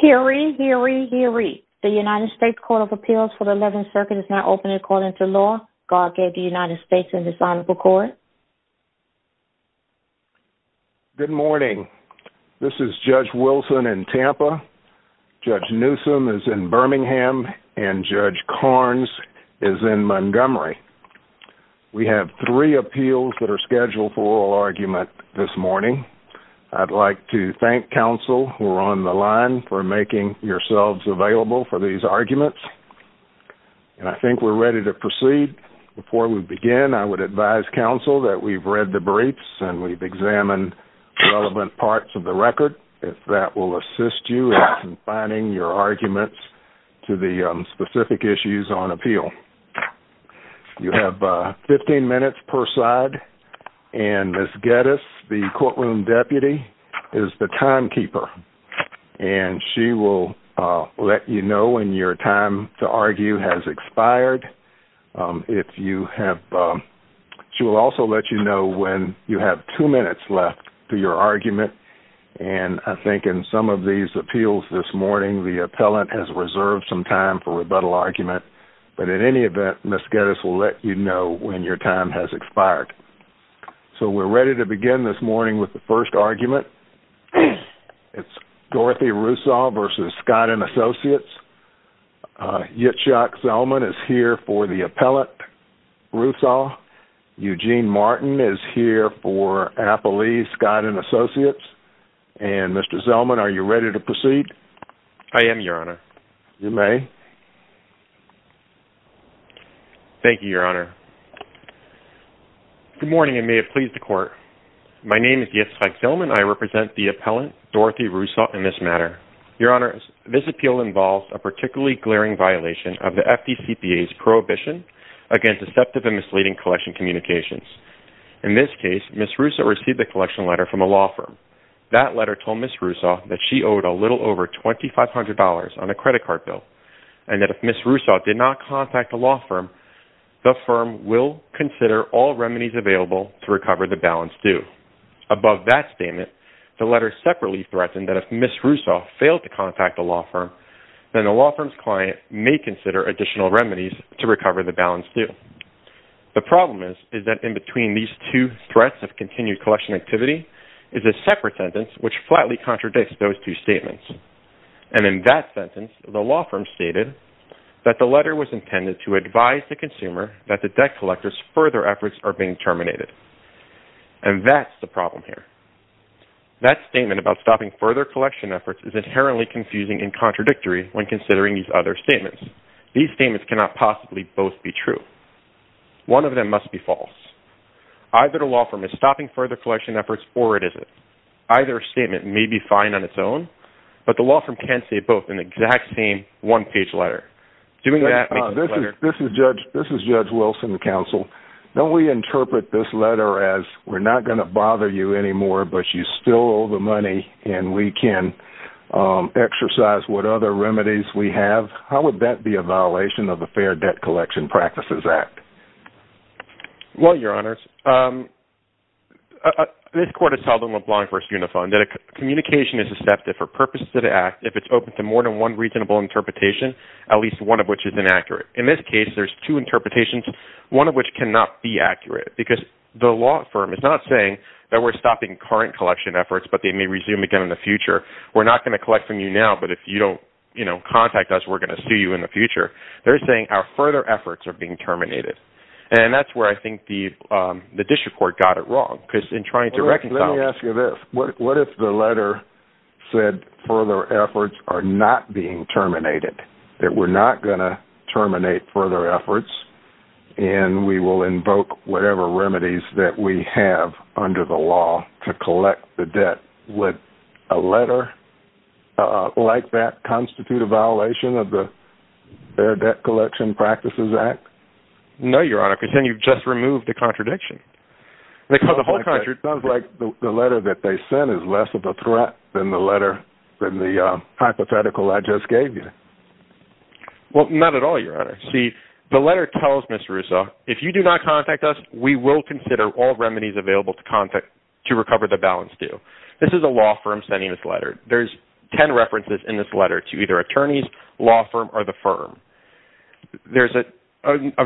Hear ye, hear ye, hear ye. The United States Court of Appeals for the 11th Circuit is now open according to law. God gave the United States and His Honorable Court. Good morning. This is Judge Wilson in Tampa. Judge Newsom is in Birmingham, and Judge Carnes is in Montgomery. We have three appeals that are scheduled for oral argument this morning. I'd like to thank counsel who are on the line for making yourselves available for these arguments. I think we're ready to proceed. Before we begin, I would advise counsel that we've read the briefs and we've examined relevant parts of the record. If that will assist you in confining your arguments to the specific issues on appeal. You have 15 minutes per side. Ms. Geddes, the courtroom deputy, is the timekeeper. She will let you know when your time to argue has expired. She will also let you know when you have two minutes left to your argument. I think in some of these appeals this morning, the appellant has reserved some time for rebuttal argument. But in any event, Ms. Geddes will let you know when your time has expired. So we're ready to begin this morning with the first argument. It's Dorothy Rousaw versus Skid and Associates. Yitzhak Zellman is here for the appellant, Rousaw. Eugene Martin is here for appellee, Skid and Associates. And Mr. Zellman, are you ready to proceed? I am, Your Honor. You may. Thank you, Your Honor. Good morning, and may it please the Court. My name is Yitzhak Zellman. I represent the appellant, Dorothy Rousaw, in this matter. Your Honor, this appeal involves a particularly glaring violation of the FDCPA's prohibition against deceptive and misleading collection communications. In this case, Ms. Rousaw received a collection letter from a law firm. That letter told Ms. Rousaw that she owed a little over $2,500 on a credit card bill and that if Ms. Rousaw did not contact the law firm, the firm will consider all remedies available to recover the balance due. Above that statement, the letter separately threatened that if Ms. Rousaw failed to contact the law firm, then the law firm's client may consider additional remedies to recover the balance due. The problem is that in between these two threats of continued collection activity is a separate sentence which flatly contradicts those two statements. And in that sentence, the law firm stated that the letter was intended to advise the consumer that the debt collector's further efforts are being terminated. And that's the problem here. That statement about stopping further collection efforts is inherently confusing and contradictory when considering these other statements. These statements cannot possibly both be true. One of them must be false. Either the law firm is stopping further collection efforts or it isn't. Either statement may be fine on its own, but the law firm can't say both in the exact same one-page letter. This is Judge Wilson, the counsel. Don't we interpret this letter as we're not going to bother you anymore, but you still owe the money and we can exercise what other remedies we have? How would that be a violation of the Fair Debt Collection Practices Act? Well, Your Honors, this court has held in LeBlanc v. Unifon that a communication is accepted for purposes of the act if it's open to more than one reasonable interpretation, at least one of which is inaccurate. In this case, there's two interpretations, one of which cannot be accurate because the law firm is not saying that we're stopping current collection efforts but they may resume again in the future. We're not going to collect from you now, but if you don't contact us, we're going to sue you in the future. They're saying our further efforts are being terminated, and that's where I think the district court got it wrong. Let me ask you this. What if the letter said further efforts are not being terminated, that we're not going to terminate further efforts and we will invoke whatever remedies that we have under the law to collect the debt? Would a letter like that constitute a violation of the Fair Debt Collection Practices Act? No, Your Honor, because then you've just removed the contradiction. It sounds like the letter that they sent is less of a threat than the hypothetical I just gave you. Well, not at all, Your Honor. See, the letter tells Ms. Russo, if you do not contact us, we will consider all remedies available to recover the balance due. This is a law firm sending this letter. There's ten references in this letter to either attorneys, law firm, or the firm. There's a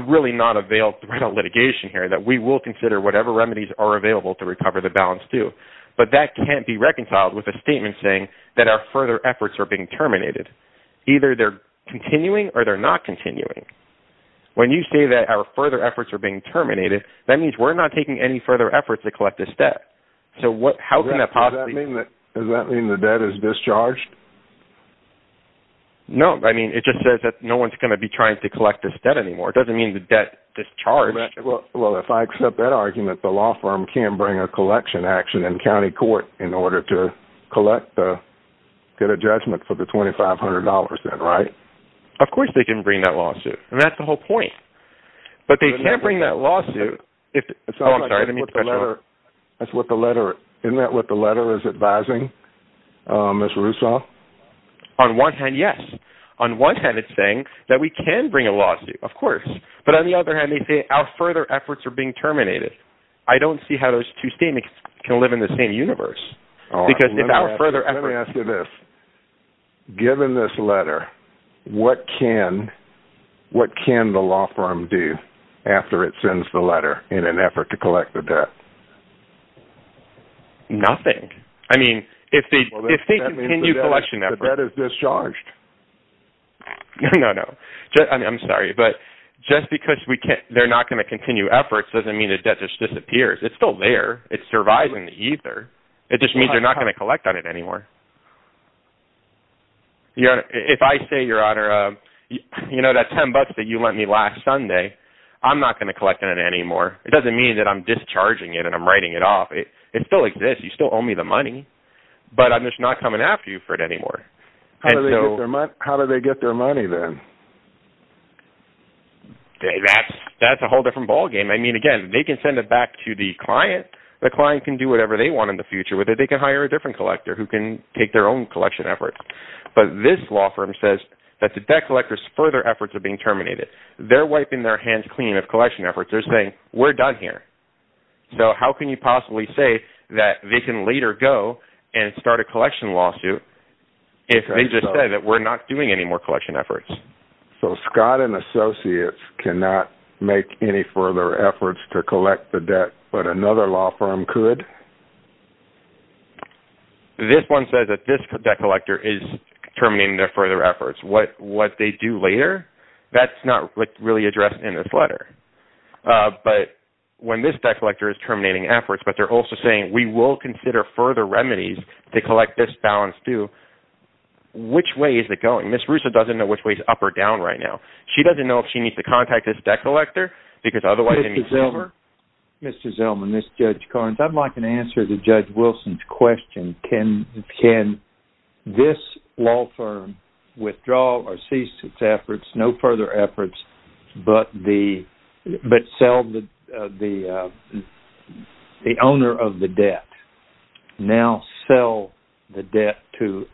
really not a valid threat of litigation here, that we will consider whatever remedies are available to recover the balance due, but that can't be reconciled with a statement saying that our further efforts are being terminated. Either they're continuing or they're not continuing. When you say that our further efforts are being terminated, that means we're not taking any further efforts to collect this debt. Does that mean the debt is discharged? No, I mean, it just says that no one's going to be trying to collect this debt anymore. It doesn't mean the debt discharged. Well, if I accept that argument, the law firm can bring a collection action in county court in order to get a judgment for the $2,500 then, right? Of course they can bring that lawsuit. And that's the whole point. But they can't bring that lawsuit if... Oh, I'm sorry. Isn't that what the letter is advising, Mr. Russo? On one hand, yes. On one hand, it's saying that we can bring a lawsuit, of course. But on the other hand, they say our further efforts are being terminated. I don't see how those two statements can live in the same universe. Let me ask you this. Given this letter, what can the law firm do after it sends the letter in an effort to collect the debt? Nothing. I mean, if they continue collection efforts... That means the debt is discharged. No, no. I'm sorry, but just because they're not going to continue efforts doesn't mean the debt just disappears. It's still there. It survives in the ether. It just means they're not going to collect on it anymore. If I say, Your Honor, you know, that $10 that you lent me last Sunday, I'm not going to collect on it anymore. It doesn't mean that I'm discharging it and I'm writing it off. It still exists. You still owe me the money. But I'm just not coming after you for it anymore. How do they get their money then? That's a whole different ballgame. I mean, again, they can send it back to the client. The client can do whatever they want in the future with it. They can hire a different collector who can take their own collection efforts. But this law firm says that the debt collector's further efforts are being terminated. They're wiping their hands clean of collection efforts. They're saying, We're done here. So how can you possibly say that they can later go and start a collection lawsuit if they just said that we're not doing any more collection efforts? So Scott and Associates cannot make any further efforts to collect the debt, but another law firm could. This one says that this debt collector is terminating their further efforts. What they do later, that's not really addressed in this letter. But when this debt collector is terminating efforts, but they're also saying we will consider further remedies to collect this balance due, which way is it going? Ms. Russa doesn't know which way is up or down right now. She doesn't know if she needs to contact this debt collector because otherwise Mr. Zellman, this is Judge Carnes. I'd like an answer to Judge Wilson's question. Can this law firm withdraw or cease its efforts, no further efforts, but sell the owner of the debt, now sell the debt to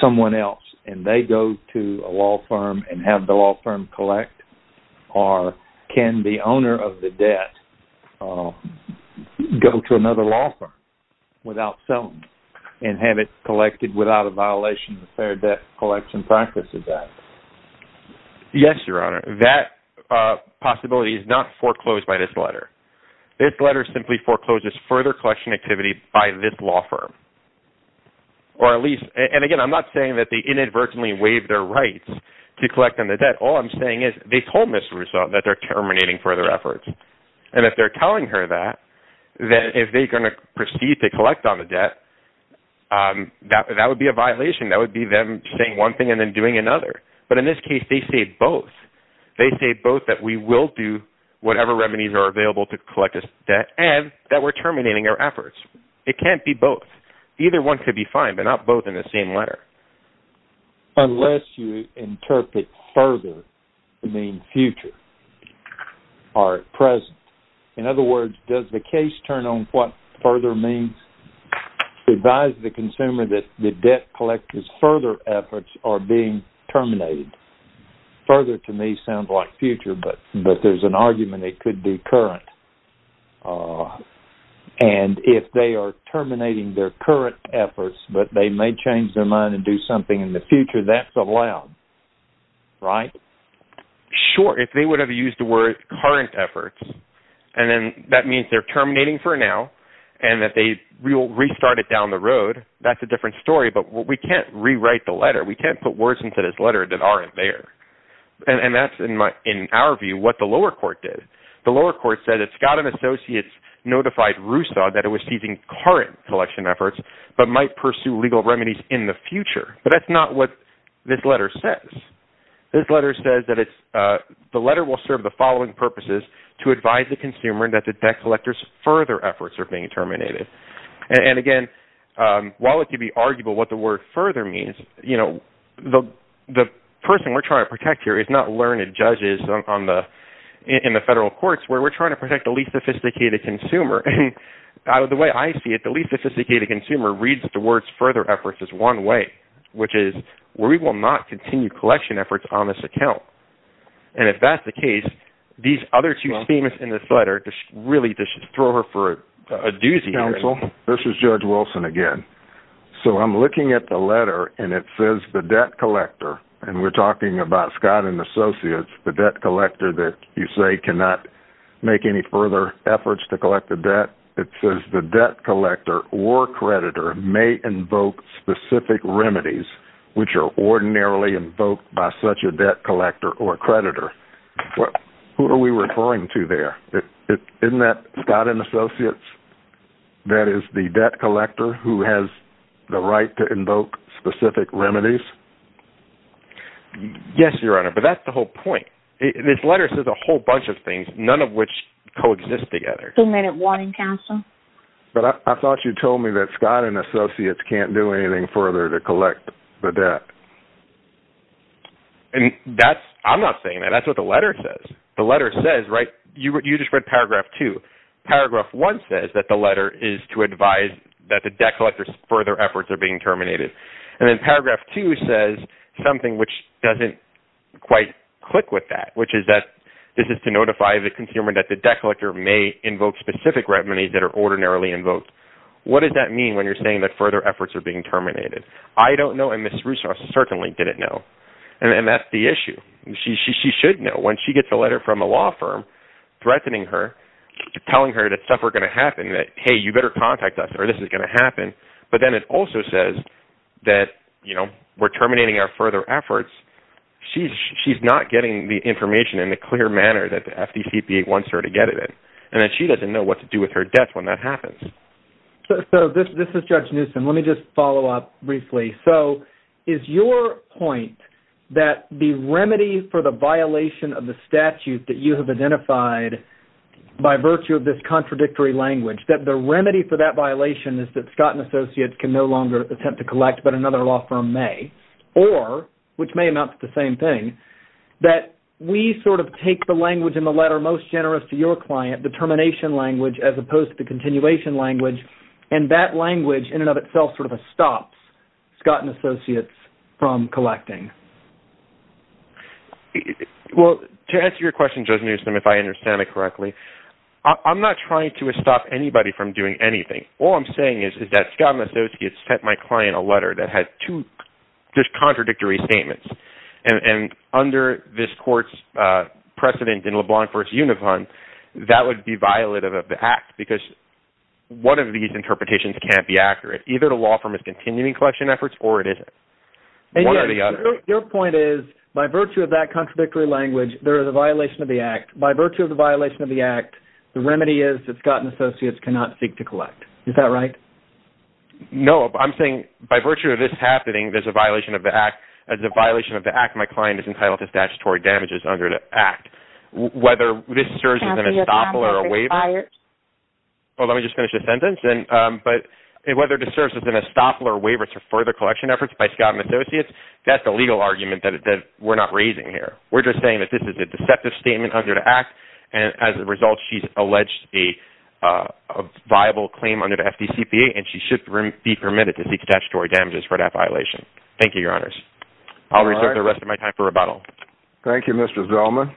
someone else, and they go to a law firm and have the law firm collect? Or can the owner of the debt go to another law firm without selling and have it collected without a violation of the Fair Debt Collection Practices Act? Yes, Your Honor. That possibility is not foreclosed by this letter. This letter simply forecloses further collection activity by this law firm. Or at least, and again, I'm not saying that they inadvertently waive their rights to collect on the debt. All I'm saying is they told Ms. Russa that they're terminating further efforts. And if they're telling her that, then if they're going to proceed to collect on the debt, that would be a violation. That would be them saying one thing and then doing another. But in this case, they say both. They say both that we will do whatever remedies are available to collect this debt and that we're terminating our efforts. It can't be both. Either one could be fine, but not both in the same letter. Unless you interpret further, you mean future, or present. In other words, does the case turn on what further means? Advise the consumer that the debt collector's further efforts are being terminated. Further to me sounds like future, but there's an argument it could be current. And if they are terminating their current efforts, but they may change their mind and do something in the future, that's allowed, right? Sure. If they would have used the word current efforts, and then that means they're terminating for now, and that they will restart it down the road, that's a different story. But we can't rewrite the letter. We can't put words into this letter that aren't there. And that's, in our view, what the lower court did. The lower court said that Scott and Associates notified Rousseau that it was seizing current collection efforts, but might pursue legal remedies in the future. But that's not what this letter says. This letter says that the letter will serve the following purposes, to advise the consumer that the debt collector's further efforts are being terminated. And, again, while it could be arguable what the word further means, the person we're trying to protect here is not learned judges in the federal courts, where we're trying to protect the least sophisticated consumer. And the way I see it, the least sophisticated consumer reads the words further efforts as one way, which is we will not continue collection efforts on this account. And if that's the case, these other two themes in this letter really just throw her for a doozy. Counsel, this is Judge Wilson again. So I'm looking at the letter, and it says the debt collector, and we're talking about Scott and Associates, the debt collector that you say cannot make any further efforts to collect the debt. It says the debt collector or creditor may invoke specific remedies, which are ordinarily invoked by such a debt collector or creditor. Who are we referring to there? Isn't that Scott and Associates? That is the debt collector who has the right to invoke specific remedies? Yes, Your Honor, but that's the whole point. This letter says a whole bunch of things, none of which coexist together. Two-minute warning, Counsel. But I thought you told me that Scott and Associates can't do anything further to collect the debt. And that's – I'm not saying that. That's what the letter says. The letter says, right – you just read paragraph two. Paragraph one says that the letter is to advise that the debt collector's further efforts are being terminated. And then paragraph two says something which doesn't quite click with that, which is that this is to notify the consumer that the debt collector may invoke specific remedies that are ordinarily invoked. What does that mean when you're saying that further efforts are being terminated? I don't know, and Ms. Russo certainly didn't know. And that's the issue. She should know. When she gets a letter from a law firm threatening her, telling her that stuff were going to happen, that, hey, you better contact us or this is going to happen. But then it also says that, you know, we're terminating our further efforts. She's not getting the information in a clear manner that the FDCPA wants her to get it. And that she doesn't know what to do with her debts when that happens. So this is Judge Newsom. Let me just follow up briefly. So is your point that the remedy for the violation of the statute that you have identified by virtue of this contradictory language, that the remedy for that violation is that Scott & Associates can no longer attempt to collect but another law firm may, or, which may amount to the same thing, that we sort of take the language in the letter most generous to your client, the termination language, as opposed to the continuation language, and that language in and of itself sort of stops Scott & Associates from collecting? Well, to answer your question, Judge Newsom, if I understand it correctly, I'm not trying to stop anybody from doing anything. All I'm saying is that Scott & Associates sent my client a letter that had two contradictory statements. And under this court's precedent in LeBlanc v. Unifon, that would be violative of the act because one of these interpretations can't be accurate. Either the law firm is continuing collection efforts or it isn't. Your point is, by virtue of that contradictory language, there is a violation of the act. By virtue of the violation of the act, the remedy is that Scott & Associates cannot seek to collect. Is that right? No, I'm saying by virtue of this happening, there's a violation of the act. As a violation of the act, my client is entitled to statutory damages under the act. Whether this serves as an estoppel or a waiver to further collection efforts by Scott & Associates, that's a legal argument that we're not raising here. We're just saying that this is a deceptive statement under the act, and as a result she's alleged a viable claim under the FDCPA, and she should be permitted to seek statutory damages for that violation. Thank you, Your Honors. I'll reserve the rest of my time for rebuttal. Thank you, Mr. Zellman.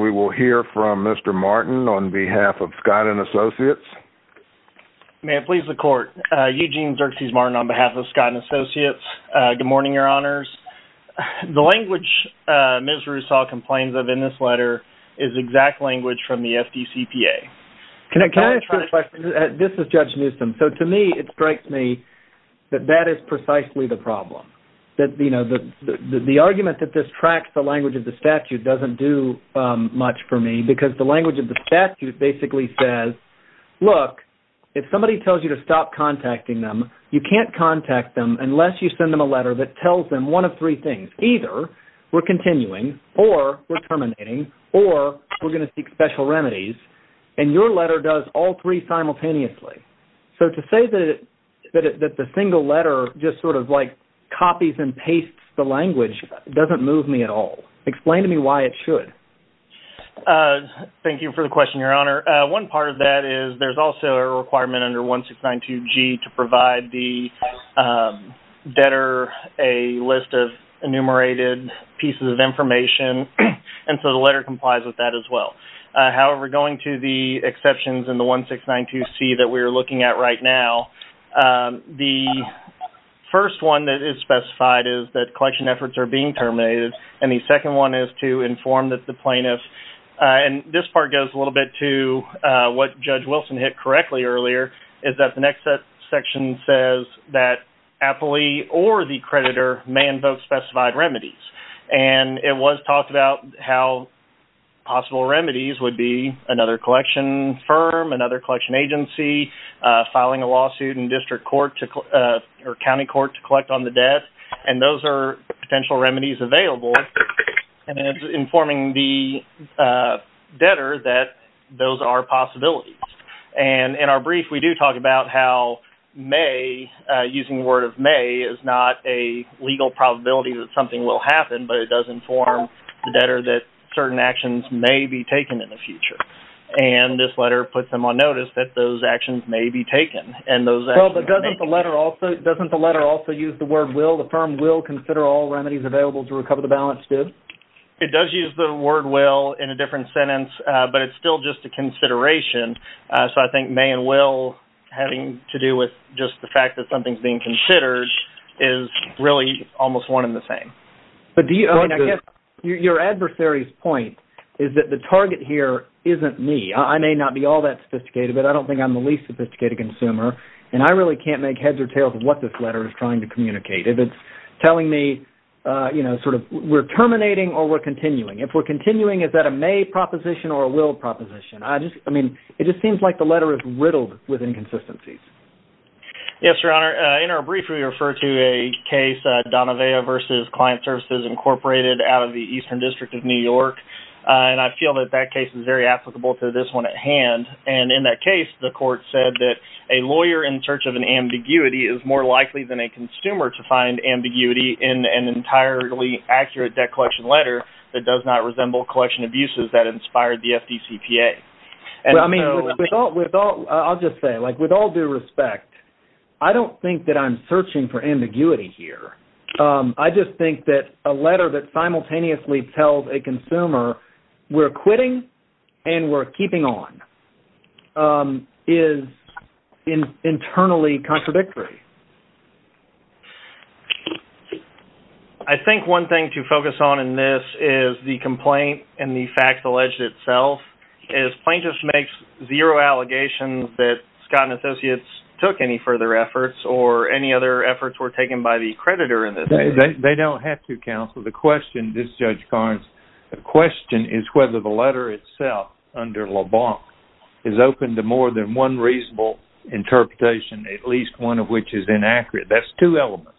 We will hear from Mr. Martin on behalf of Scott & Associates. May it please the Court. Eugene Xerxes Martin on behalf of Scott & Associates. Good morning, Your Honors. The language Ms. Roussel complains of in this letter is exact language from the FDCPA. Can I ask you a question? This is Judge Newsom. To me, it strikes me that that is precisely the problem. The argument that this tracks the language of the statute doesn't do much for me because the language of the statute basically says, look, if somebody tells you to stop contacting them, you can't contact them unless you send them a letter that tells them one of three things. Either we're continuing or we're terminating or we're going to seek special remedies, and your letter does all three simultaneously. So to say that the single letter just sort of like copies and pastes the language doesn't move me at all. Explain to me why it should. Thank you for the question, Your Honor. One part of that is there's also a requirement under 1692G to provide the debtor a list of enumerated pieces of information, and so the letter complies with that as well. However, going to the exceptions in the 1692C that we're looking at right now, the first one that is specified is that collection efforts are being terminated, and the second one is to inform that the plaintiff, and this part goes a little bit to what Judge Wilson hit correctly earlier, is that the next section says that appellee or the creditor may invoke specified remedies, and it was talked about how possible remedies would be another collection firm, another collection agency filing a lawsuit in district court or county court to collect on the debt, and those are potential remedies available, and it's informing the debtor that those are possibilities, and in our brief we do talk about how may, using the word of may, is not a legal probability that something will happen, but it does inform the debtor that certain actions may be taken in the future, and this letter puts them on notice that those actions may be taken. Well, but doesn't the letter also use the word will? The firm will consider all remedies available to recover the balance, too? It does use the word will in a different sentence, but it's still just a consideration, so I think may and will having to do with just the fact that something's being considered is really almost one and the same. But I guess your adversary's point is that the target here isn't me. I may not be all that sophisticated, but I don't think I'm the least sophisticated consumer, and I really can't make heads or tails of what this letter is trying to communicate. If it's telling me we're terminating or we're continuing, if we're continuing, is that a may proposition or a will proposition? I mean, it just seems like the letter is riddled with inconsistencies. Yes, Your Honor. In our brief, we refer to a case, Donavea v. Client Services, Incorporated out of the Eastern District of New York, and I feel that that case is very applicable to this one at hand, and in that case, the court said that a lawyer in search of an ambiguity is more likely than a consumer to find ambiguity in an entirely accurate debt collection letter that does not resemble collection abuses that inspired the FDCPA. I'll just say, with all due respect, I don't think that I'm searching for ambiguity here. I just think that a letter that simultaneously tells a consumer we're quitting and we're keeping on is internally contradictory. I think one thing to focus on in this is the complaint and the fact alleged itself. Plaintiffs make zero allegations that Scott & Associates took any further efforts or any other efforts were taken by the creditor in this case. They don't have to, counsel. The question, this Judge Carnes, the question is whether the letter itself under LeBlanc is open to more than one reasonable interpretation, at least one of which is inaccurate. That's two elements.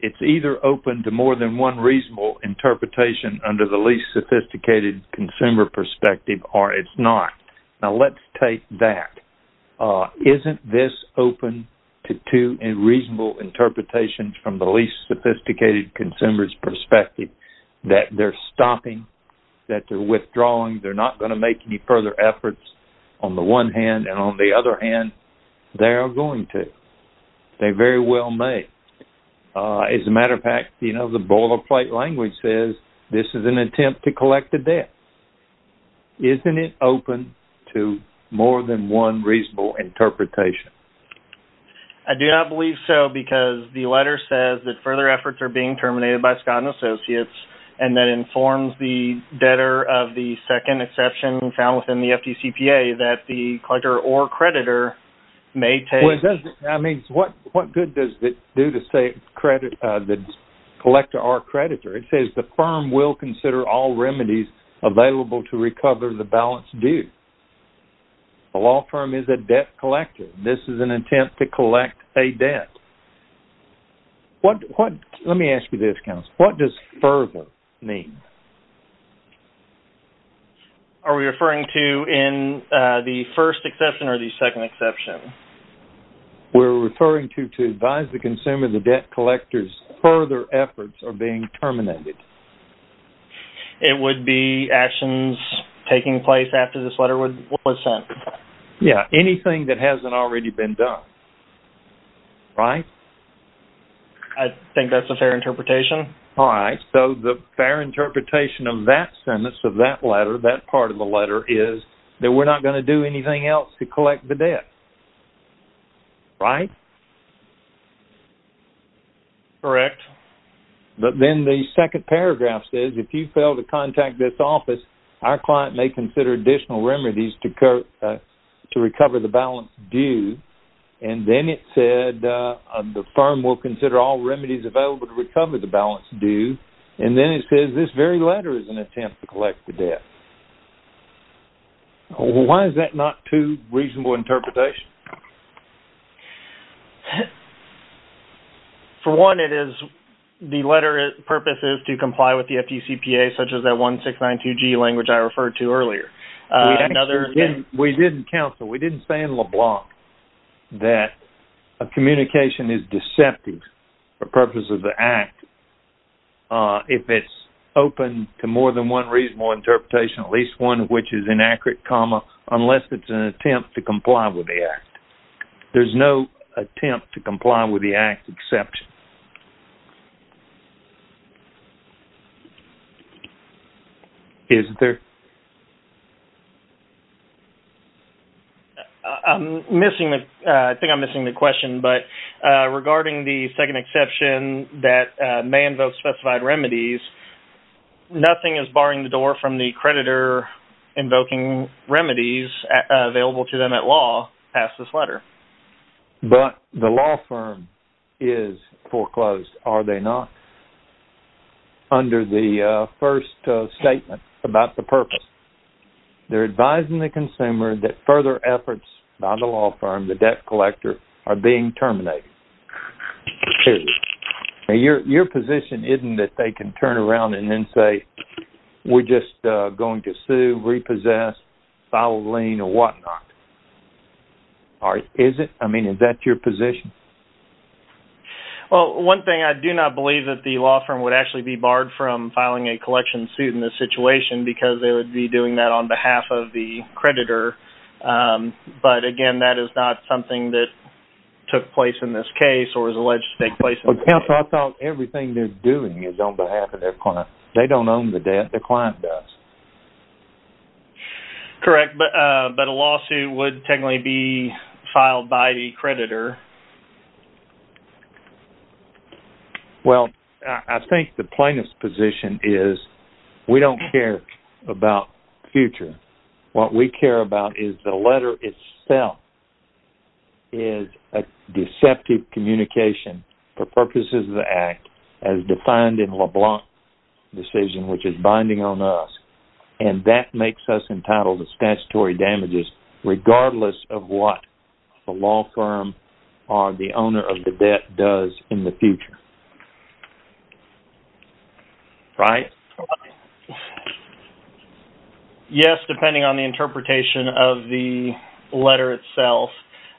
It's either open to more than one reasonable interpretation under the least sophisticated consumer perspective or it's not. Now, let's take that. Isn't this open to two reasonable interpretations from the least sophisticated consumer's perspective that they're stopping, that they're withdrawing, they're not going to make any further efforts on the one hand, and on the other hand, they are going to? They're very well made. As a matter of fact, you know, the boilerplate language says this is an attempt to collect a debt. Isn't it open to more than one reasonable interpretation? I do not believe so because the letter says that further efforts are being terminated by Scott & Associates and that informs the debtor of the second exception found within the FDCPA that the collector or creditor may take... What good does it do to say the collector or creditor? It says the firm will consider all remedies available to recover the balance due. The law firm is a debt collector. This is an attempt to collect a debt. Let me ask you this, Counsel. What does further mean? Are we referring to in the first exception or the second exception? We're referring to to advise the consumer the debt collector's further efforts are being terminated. It would be actions taking place after this letter was sent. Yeah, anything that hasn't already been done, right? I think that's a fair interpretation. All right, so the fair interpretation of that sentence, of that letter, that part of the letter, is that we're not going to do anything else to collect the debt. Right? Correct. Then the second paragraph says, if you fail to contact this office, our client may consider additional remedies to recover the balance due. Then it said the firm will consider all remedies available to recover the balance due. Then it says this very letter is an attempt to collect the debt. Why is that not too reasonable an interpretation? For one, the letter's purpose is to comply with the FDCPA, such as that 1692G language I referred to earlier. We didn't say in LeBlanc that a communication is deceptive for the purpose of the act. If it's open to more than one reasonable interpretation, at least one of which is inaccurate, unless it's an attempt to comply with the act. There's no attempt to comply with the act exception. Is there? I think I'm missing the question, but regarding the second exception that may invoke specified remedies, nothing is barring the door from the creditor invoking remedies available to them at law past this letter. But the law firm is foreclosed, are they not, under the first statement about the purpose? They're advising the consumer that further efforts by the law firm, the debt collector, are being terminated. Your position isn't that they can turn around and then say, we're just going to sue, repossess, file a lien, or whatnot. Is that your position? One thing, I do not believe that the law firm would actually be barred from filing a collection suit in this situation because they would be doing that on behalf of the creditor. But again, that is not something that took place in this case or is alleged to take place in this case. I thought everything they're doing is on behalf of their client. They don't own the debt, their client does. Correct, but a lawsuit would technically be filed by the creditor. Well, I think the plaintiff's position is, we don't care about future. What we care about is the letter itself is a deceptive communication for purposes of the Act, as defined in LeBlanc's decision, which is binding on us, and that makes us entitled to statutory damages regardless of what the law firm or the owner of the debt does in the future. Brian? Yes, depending on the interpretation of the letter itself.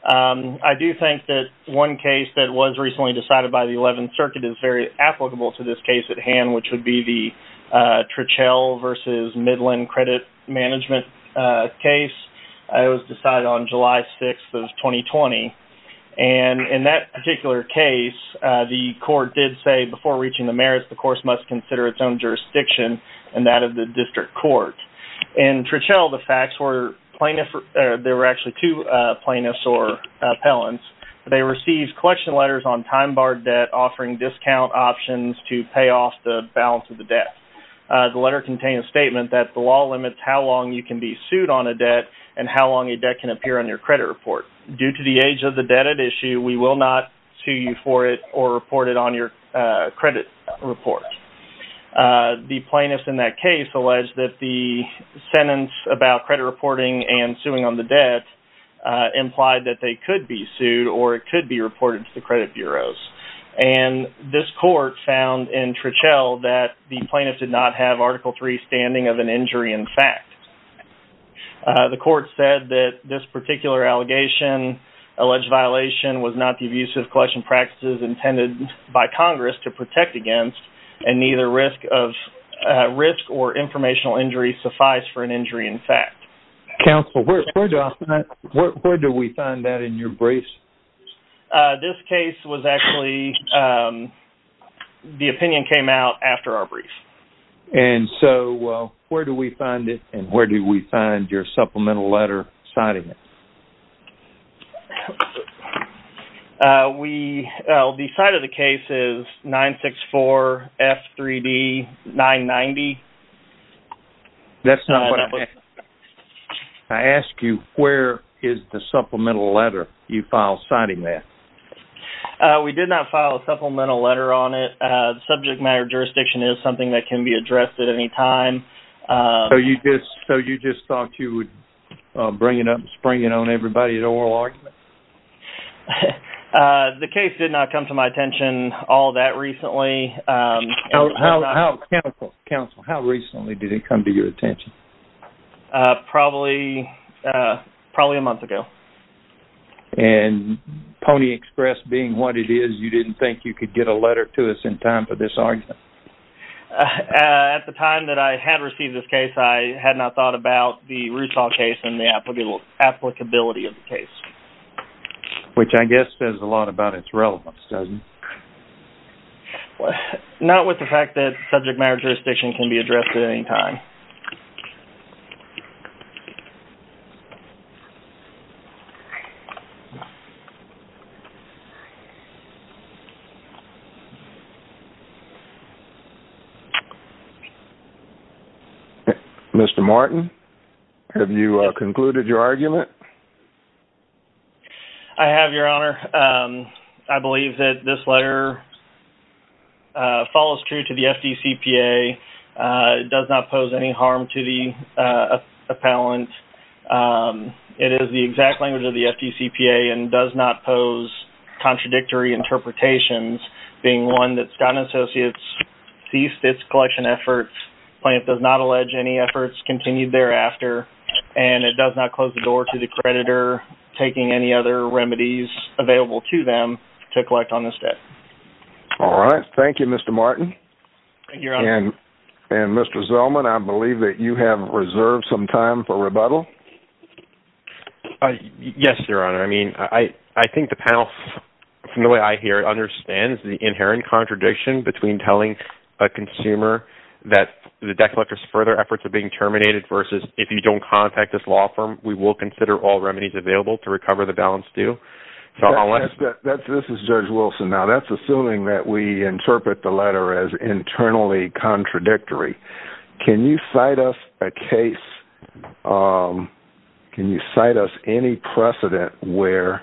I do think that one case that was recently decided by the 11th Circuit is very applicable to this case at hand, which would be the Trichel versus Midland credit management case. It was decided on July 6th of 2020. In that particular case, the court did say before reaching the merits, the course must consider its own jurisdiction and that of the district court. In Trichel, the facts were, there were actually two plaintiffs or appellants. They received collection letters on time-barred debt offering discount options to pay off the balance of the debt. The letter contained a statement that the law limits how long you can be sued on a debt and how long a debt can appear on your credit report. Due to the age of the debt at issue, we will not sue you for it or report it on your credit report. The plaintiff in that case alleged that the sentence about credit reporting and suing on the debt implied that they could be sued or it could be reported to the credit bureaus. And this court found in Trichel that the plaintiff did not have Article III standing of an injury in fact. The court said that this particular allegation, alleged violation, was not the abuse of collection practices intended by Congress to protect against and neither risk or informational injury suffice for an injury in fact. Counsel, where do we find that in your briefs? This case was actually, the opinion came out after our brief. And so where do we find it and where do we find your supplemental letter citing it? The site of the case is 964F3D990. That's not what I asked. I asked you where is the supplemental letter you filed citing that. We did not file a supplemental letter on it. The subject matter jurisdiction is something that can be addressed at any time. So you just thought you would bring it up and spring it on everybody's oral argument? The case did not come to my attention all that recently. Counsel, how recently did it come to your attention? Probably a month ago. And Pony Express being what it is, you didn't think you could get a letter to us in time for this argument? At the time that I had received this case, I had not thought about the Rousseau case and the applicability of the case. Which I guess says a lot about its relevance, doesn't it? Not with the fact that subject matter jurisdiction can be addressed at any time. Mr. Martin, have you concluded your argument? I have, Your Honor. I believe that this letter follows true to the FDCPA. It does not pose any harm to the appellant. It is the exact language of the case. It is the exact language of the FDCPA and does not pose contradictory interpretations, being one that Scott & Associates ceased its collection efforts, plaintiff does not allege any efforts continued thereafter, and it does not close the door to the creditor taking any other remedies available to them to collect on this debt. Thank you, Your Honor. Mr. Zellman, I believe that you have reserved some time for rebuttal. Yes, Your Honor. I think the panel, from the way I hear it, understands the inherent contradiction between telling a consumer that the debt collector's further efforts are being terminated versus if you don't contact this law firm, we will consider all remedies available to recover the balance due. This is Judge Wilson. Now, that's assuming that we interpret the letter as internally contradictory. Can you cite us a case, can you cite us any precedent where,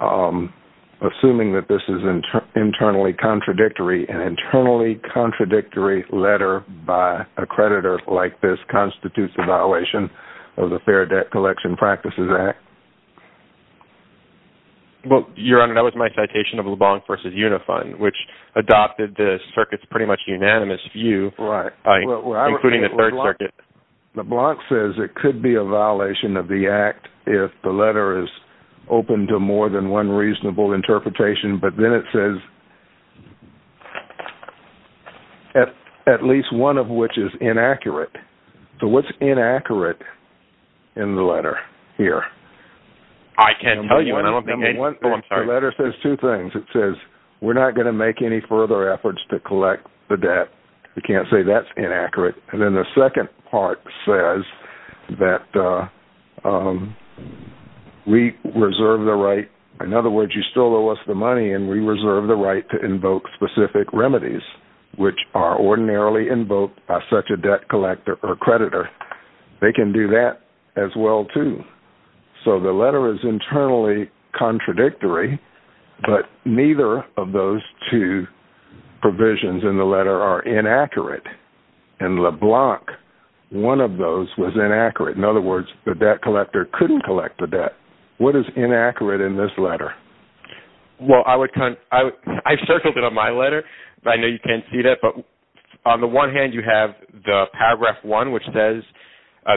assuming that this is internally contradictory, an internally contradictory letter by a creditor like this constitutes a violation of the Fair Debt Collection Practices Act? Well, Your Honor, that was my citation of LeBlanc v. Unifund, which adopted the circuit's pretty much unanimous view, including the Third Circuit. LeBlanc says it could be a violation of the act if the letter is open to more than one reasonable interpretation, but then it says, at least one of which is inaccurate. So what's inaccurate in the letter here? I can't tell you. The letter says two things. It says we're not going to make any further efforts to collect the debt. We can't say that's inaccurate. And then the second part says that we reserve the right. In other words, you still owe us the money, and we reserve the right to invoke specific remedies, which are ordinarily invoked by such a debt collector or creditor. They can do that as well, too. So the letter is internally contradictory, but neither of those two provisions in the letter are inaccurate. In LeBlanc, one of those was inaccurate. In other words, the debt collector couldn't collect the debt. What is inaccurate in this letter? Well, I've circled it on my letter, but I know you can't see that. But on the one hand, you have the Paragraph 1, which says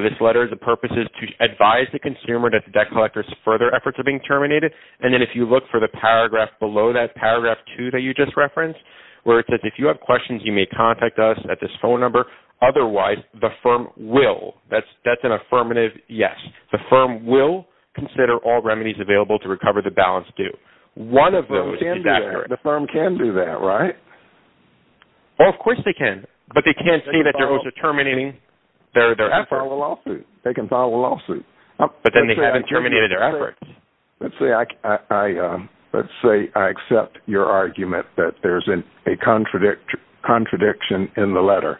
this letter's purpose is to advise the consumer that the debt collector's further efforts are being terminated. And then if you look for the paragraph below that, Paragraph 2 that you just referenced, where it says, if you have questions, you may contact us at this phone number. Otherwise, the firm will. That's an affirmative yes. The firm will consider all remedies available to recover the balance due. One of those is inaccurate. The firm can do that, right? Well, of course they can. But they can't see that those are terminating their effort. They can file a lawsuit. But then they haven't terminated their efforts. Let's say I accept your argument that there's a contradiction in the letter.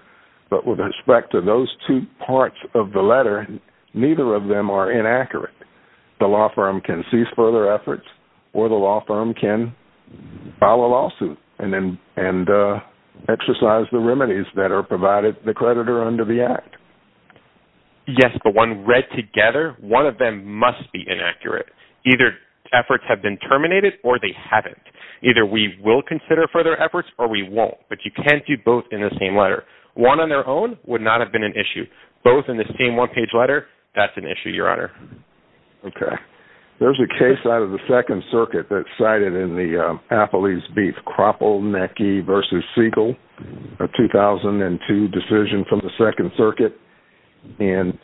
But with respect to those two parts of the letter, neither of them are inaccurate. The law firm can cease further efforts, or the law firm can file a lawsuit and exercise the remedies that are provided to the creditor under the Act. Yes, but when read together, one of them must be inaccurate. Either efforts have been terminated, or they haven't. Either we will consider further efforts, or we won't. But you can't do both in the same letter. One on their own would not have been an issue. Both in the same one-page letter, that's an issue, Your Honor. Okay. There's a case out of the Second Circuit that's cited in the Applebee's Beef Kropelnicki v. Siegel, a 2002 decision from the Second Circuit. And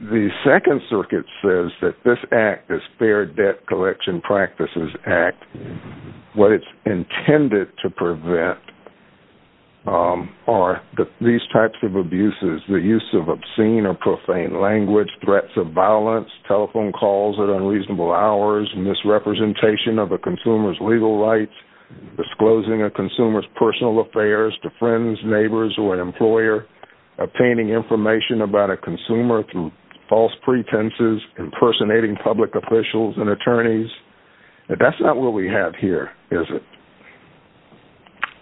the Second Circuit says that this Act, this Fair Debt Collection Practices Act, what it's intended to prevent are these types of abuses, the use of obscene or profane language, threats of violence, telephone calls at unreasonable hours, misrepresentation of a consumer's legal rights, disclosing a consumer's personal affairs to friends, neighbors, or an employer, obtaining information about a consumer through false pretenses, impersonating public officials and attorneys. That's not what we have here, is it?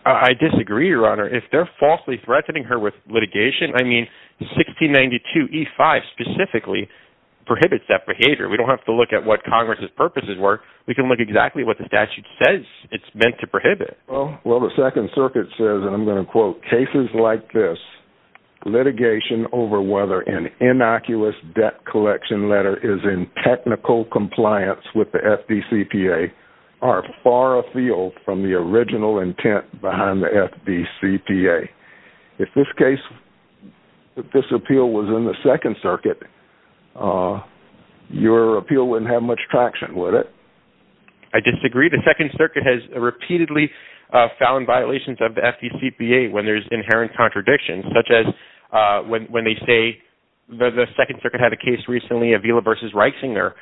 I disagree, Your Honor. If they're falsely threatening her with litigation, I mean, 1692E5 specifically prohibits that behavior. We don't have to look at what Congress's purposes were. We can look at exactly what the statute says it's meant to prohibit. Well, the Second Circuit says, and I'm going to quote, cases like this, litigation over whether an innocuous debt collection letter is in technical compliance with the FDCPA are far afield from the original intent behind the FDCPA. If this case, if this appeal was in the Second Circuit, your appeal wouldn't have much traction, would it? I disagree. The Second Circuit has repeatedly found violations of the FDCPA when there's inherent contradictions, such as when they say, the Second Circuit had a case recently, Avila v. Reisinger,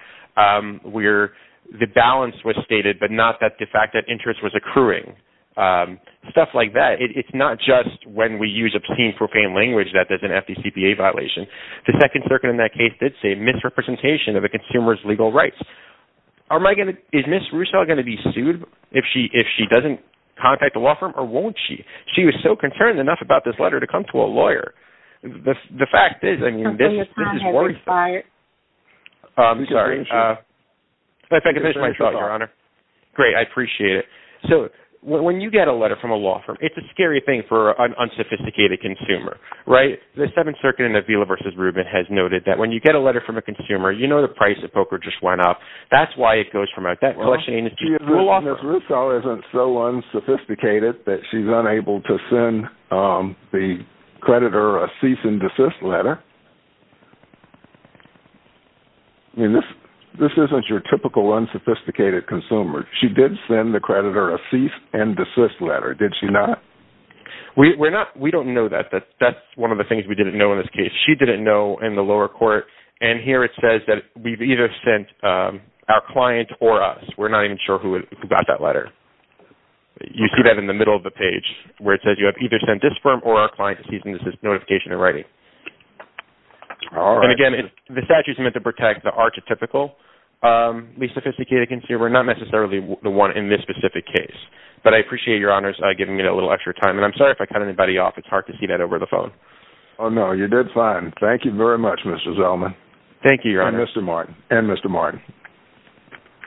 where the balance was stated but not that the fact that interest was occurring, stuff like that. It's not just when we use obscene, profane language that there's an FDCPA violation. The Second Circuit in that case did say misrepresentation of a consumer's legal rights. Is Ms. Russo going to be sued if she doesn't contact the law firm, or won't she? She was so concerned enough about this letter to come to a lawyer. The fact is, I mean, this is worrisome. I'm sorry. If I can finish my thought, Your Honor. Great, I appreciate it. So when you get a letter from a law firm, it's a scary thing for an unsophisticated consumer, right? The Seventh Circuit in Avila v. Rubin has noted that when you get a letter from a consumer, you know the price of poker just went up. That's why it goes from out. That collection agency is a law firm. Ms. Russo isn't so unsophisticated that she's unable to send the creditor a cease and desist letter. I mean, this isn't your typical unsophisticated consumer. She did send the creditor a cease and desist letter, did she not? We don't know that. That's one of the things we didn't know in this case. She didn't know in the lower court. And here it says that we've either sent our client or us. We're not even sure who got that letter. You see that in the middle of the page, where it says you have either sent this firm or our client a cease and desist notification in writing. And again, the statute is meant to protect the archetypical unsophisticated consumer, not necessarily the one in this specific case. But I appreciate Your Honor's giving me a little extra time. And I'm sorry if I cut anybody off. It's hard to see that over the phone. Oh, no, you did fine. Thank you very much, Mr. Zellman. Thank you, Your Honor. And Mr. Martin.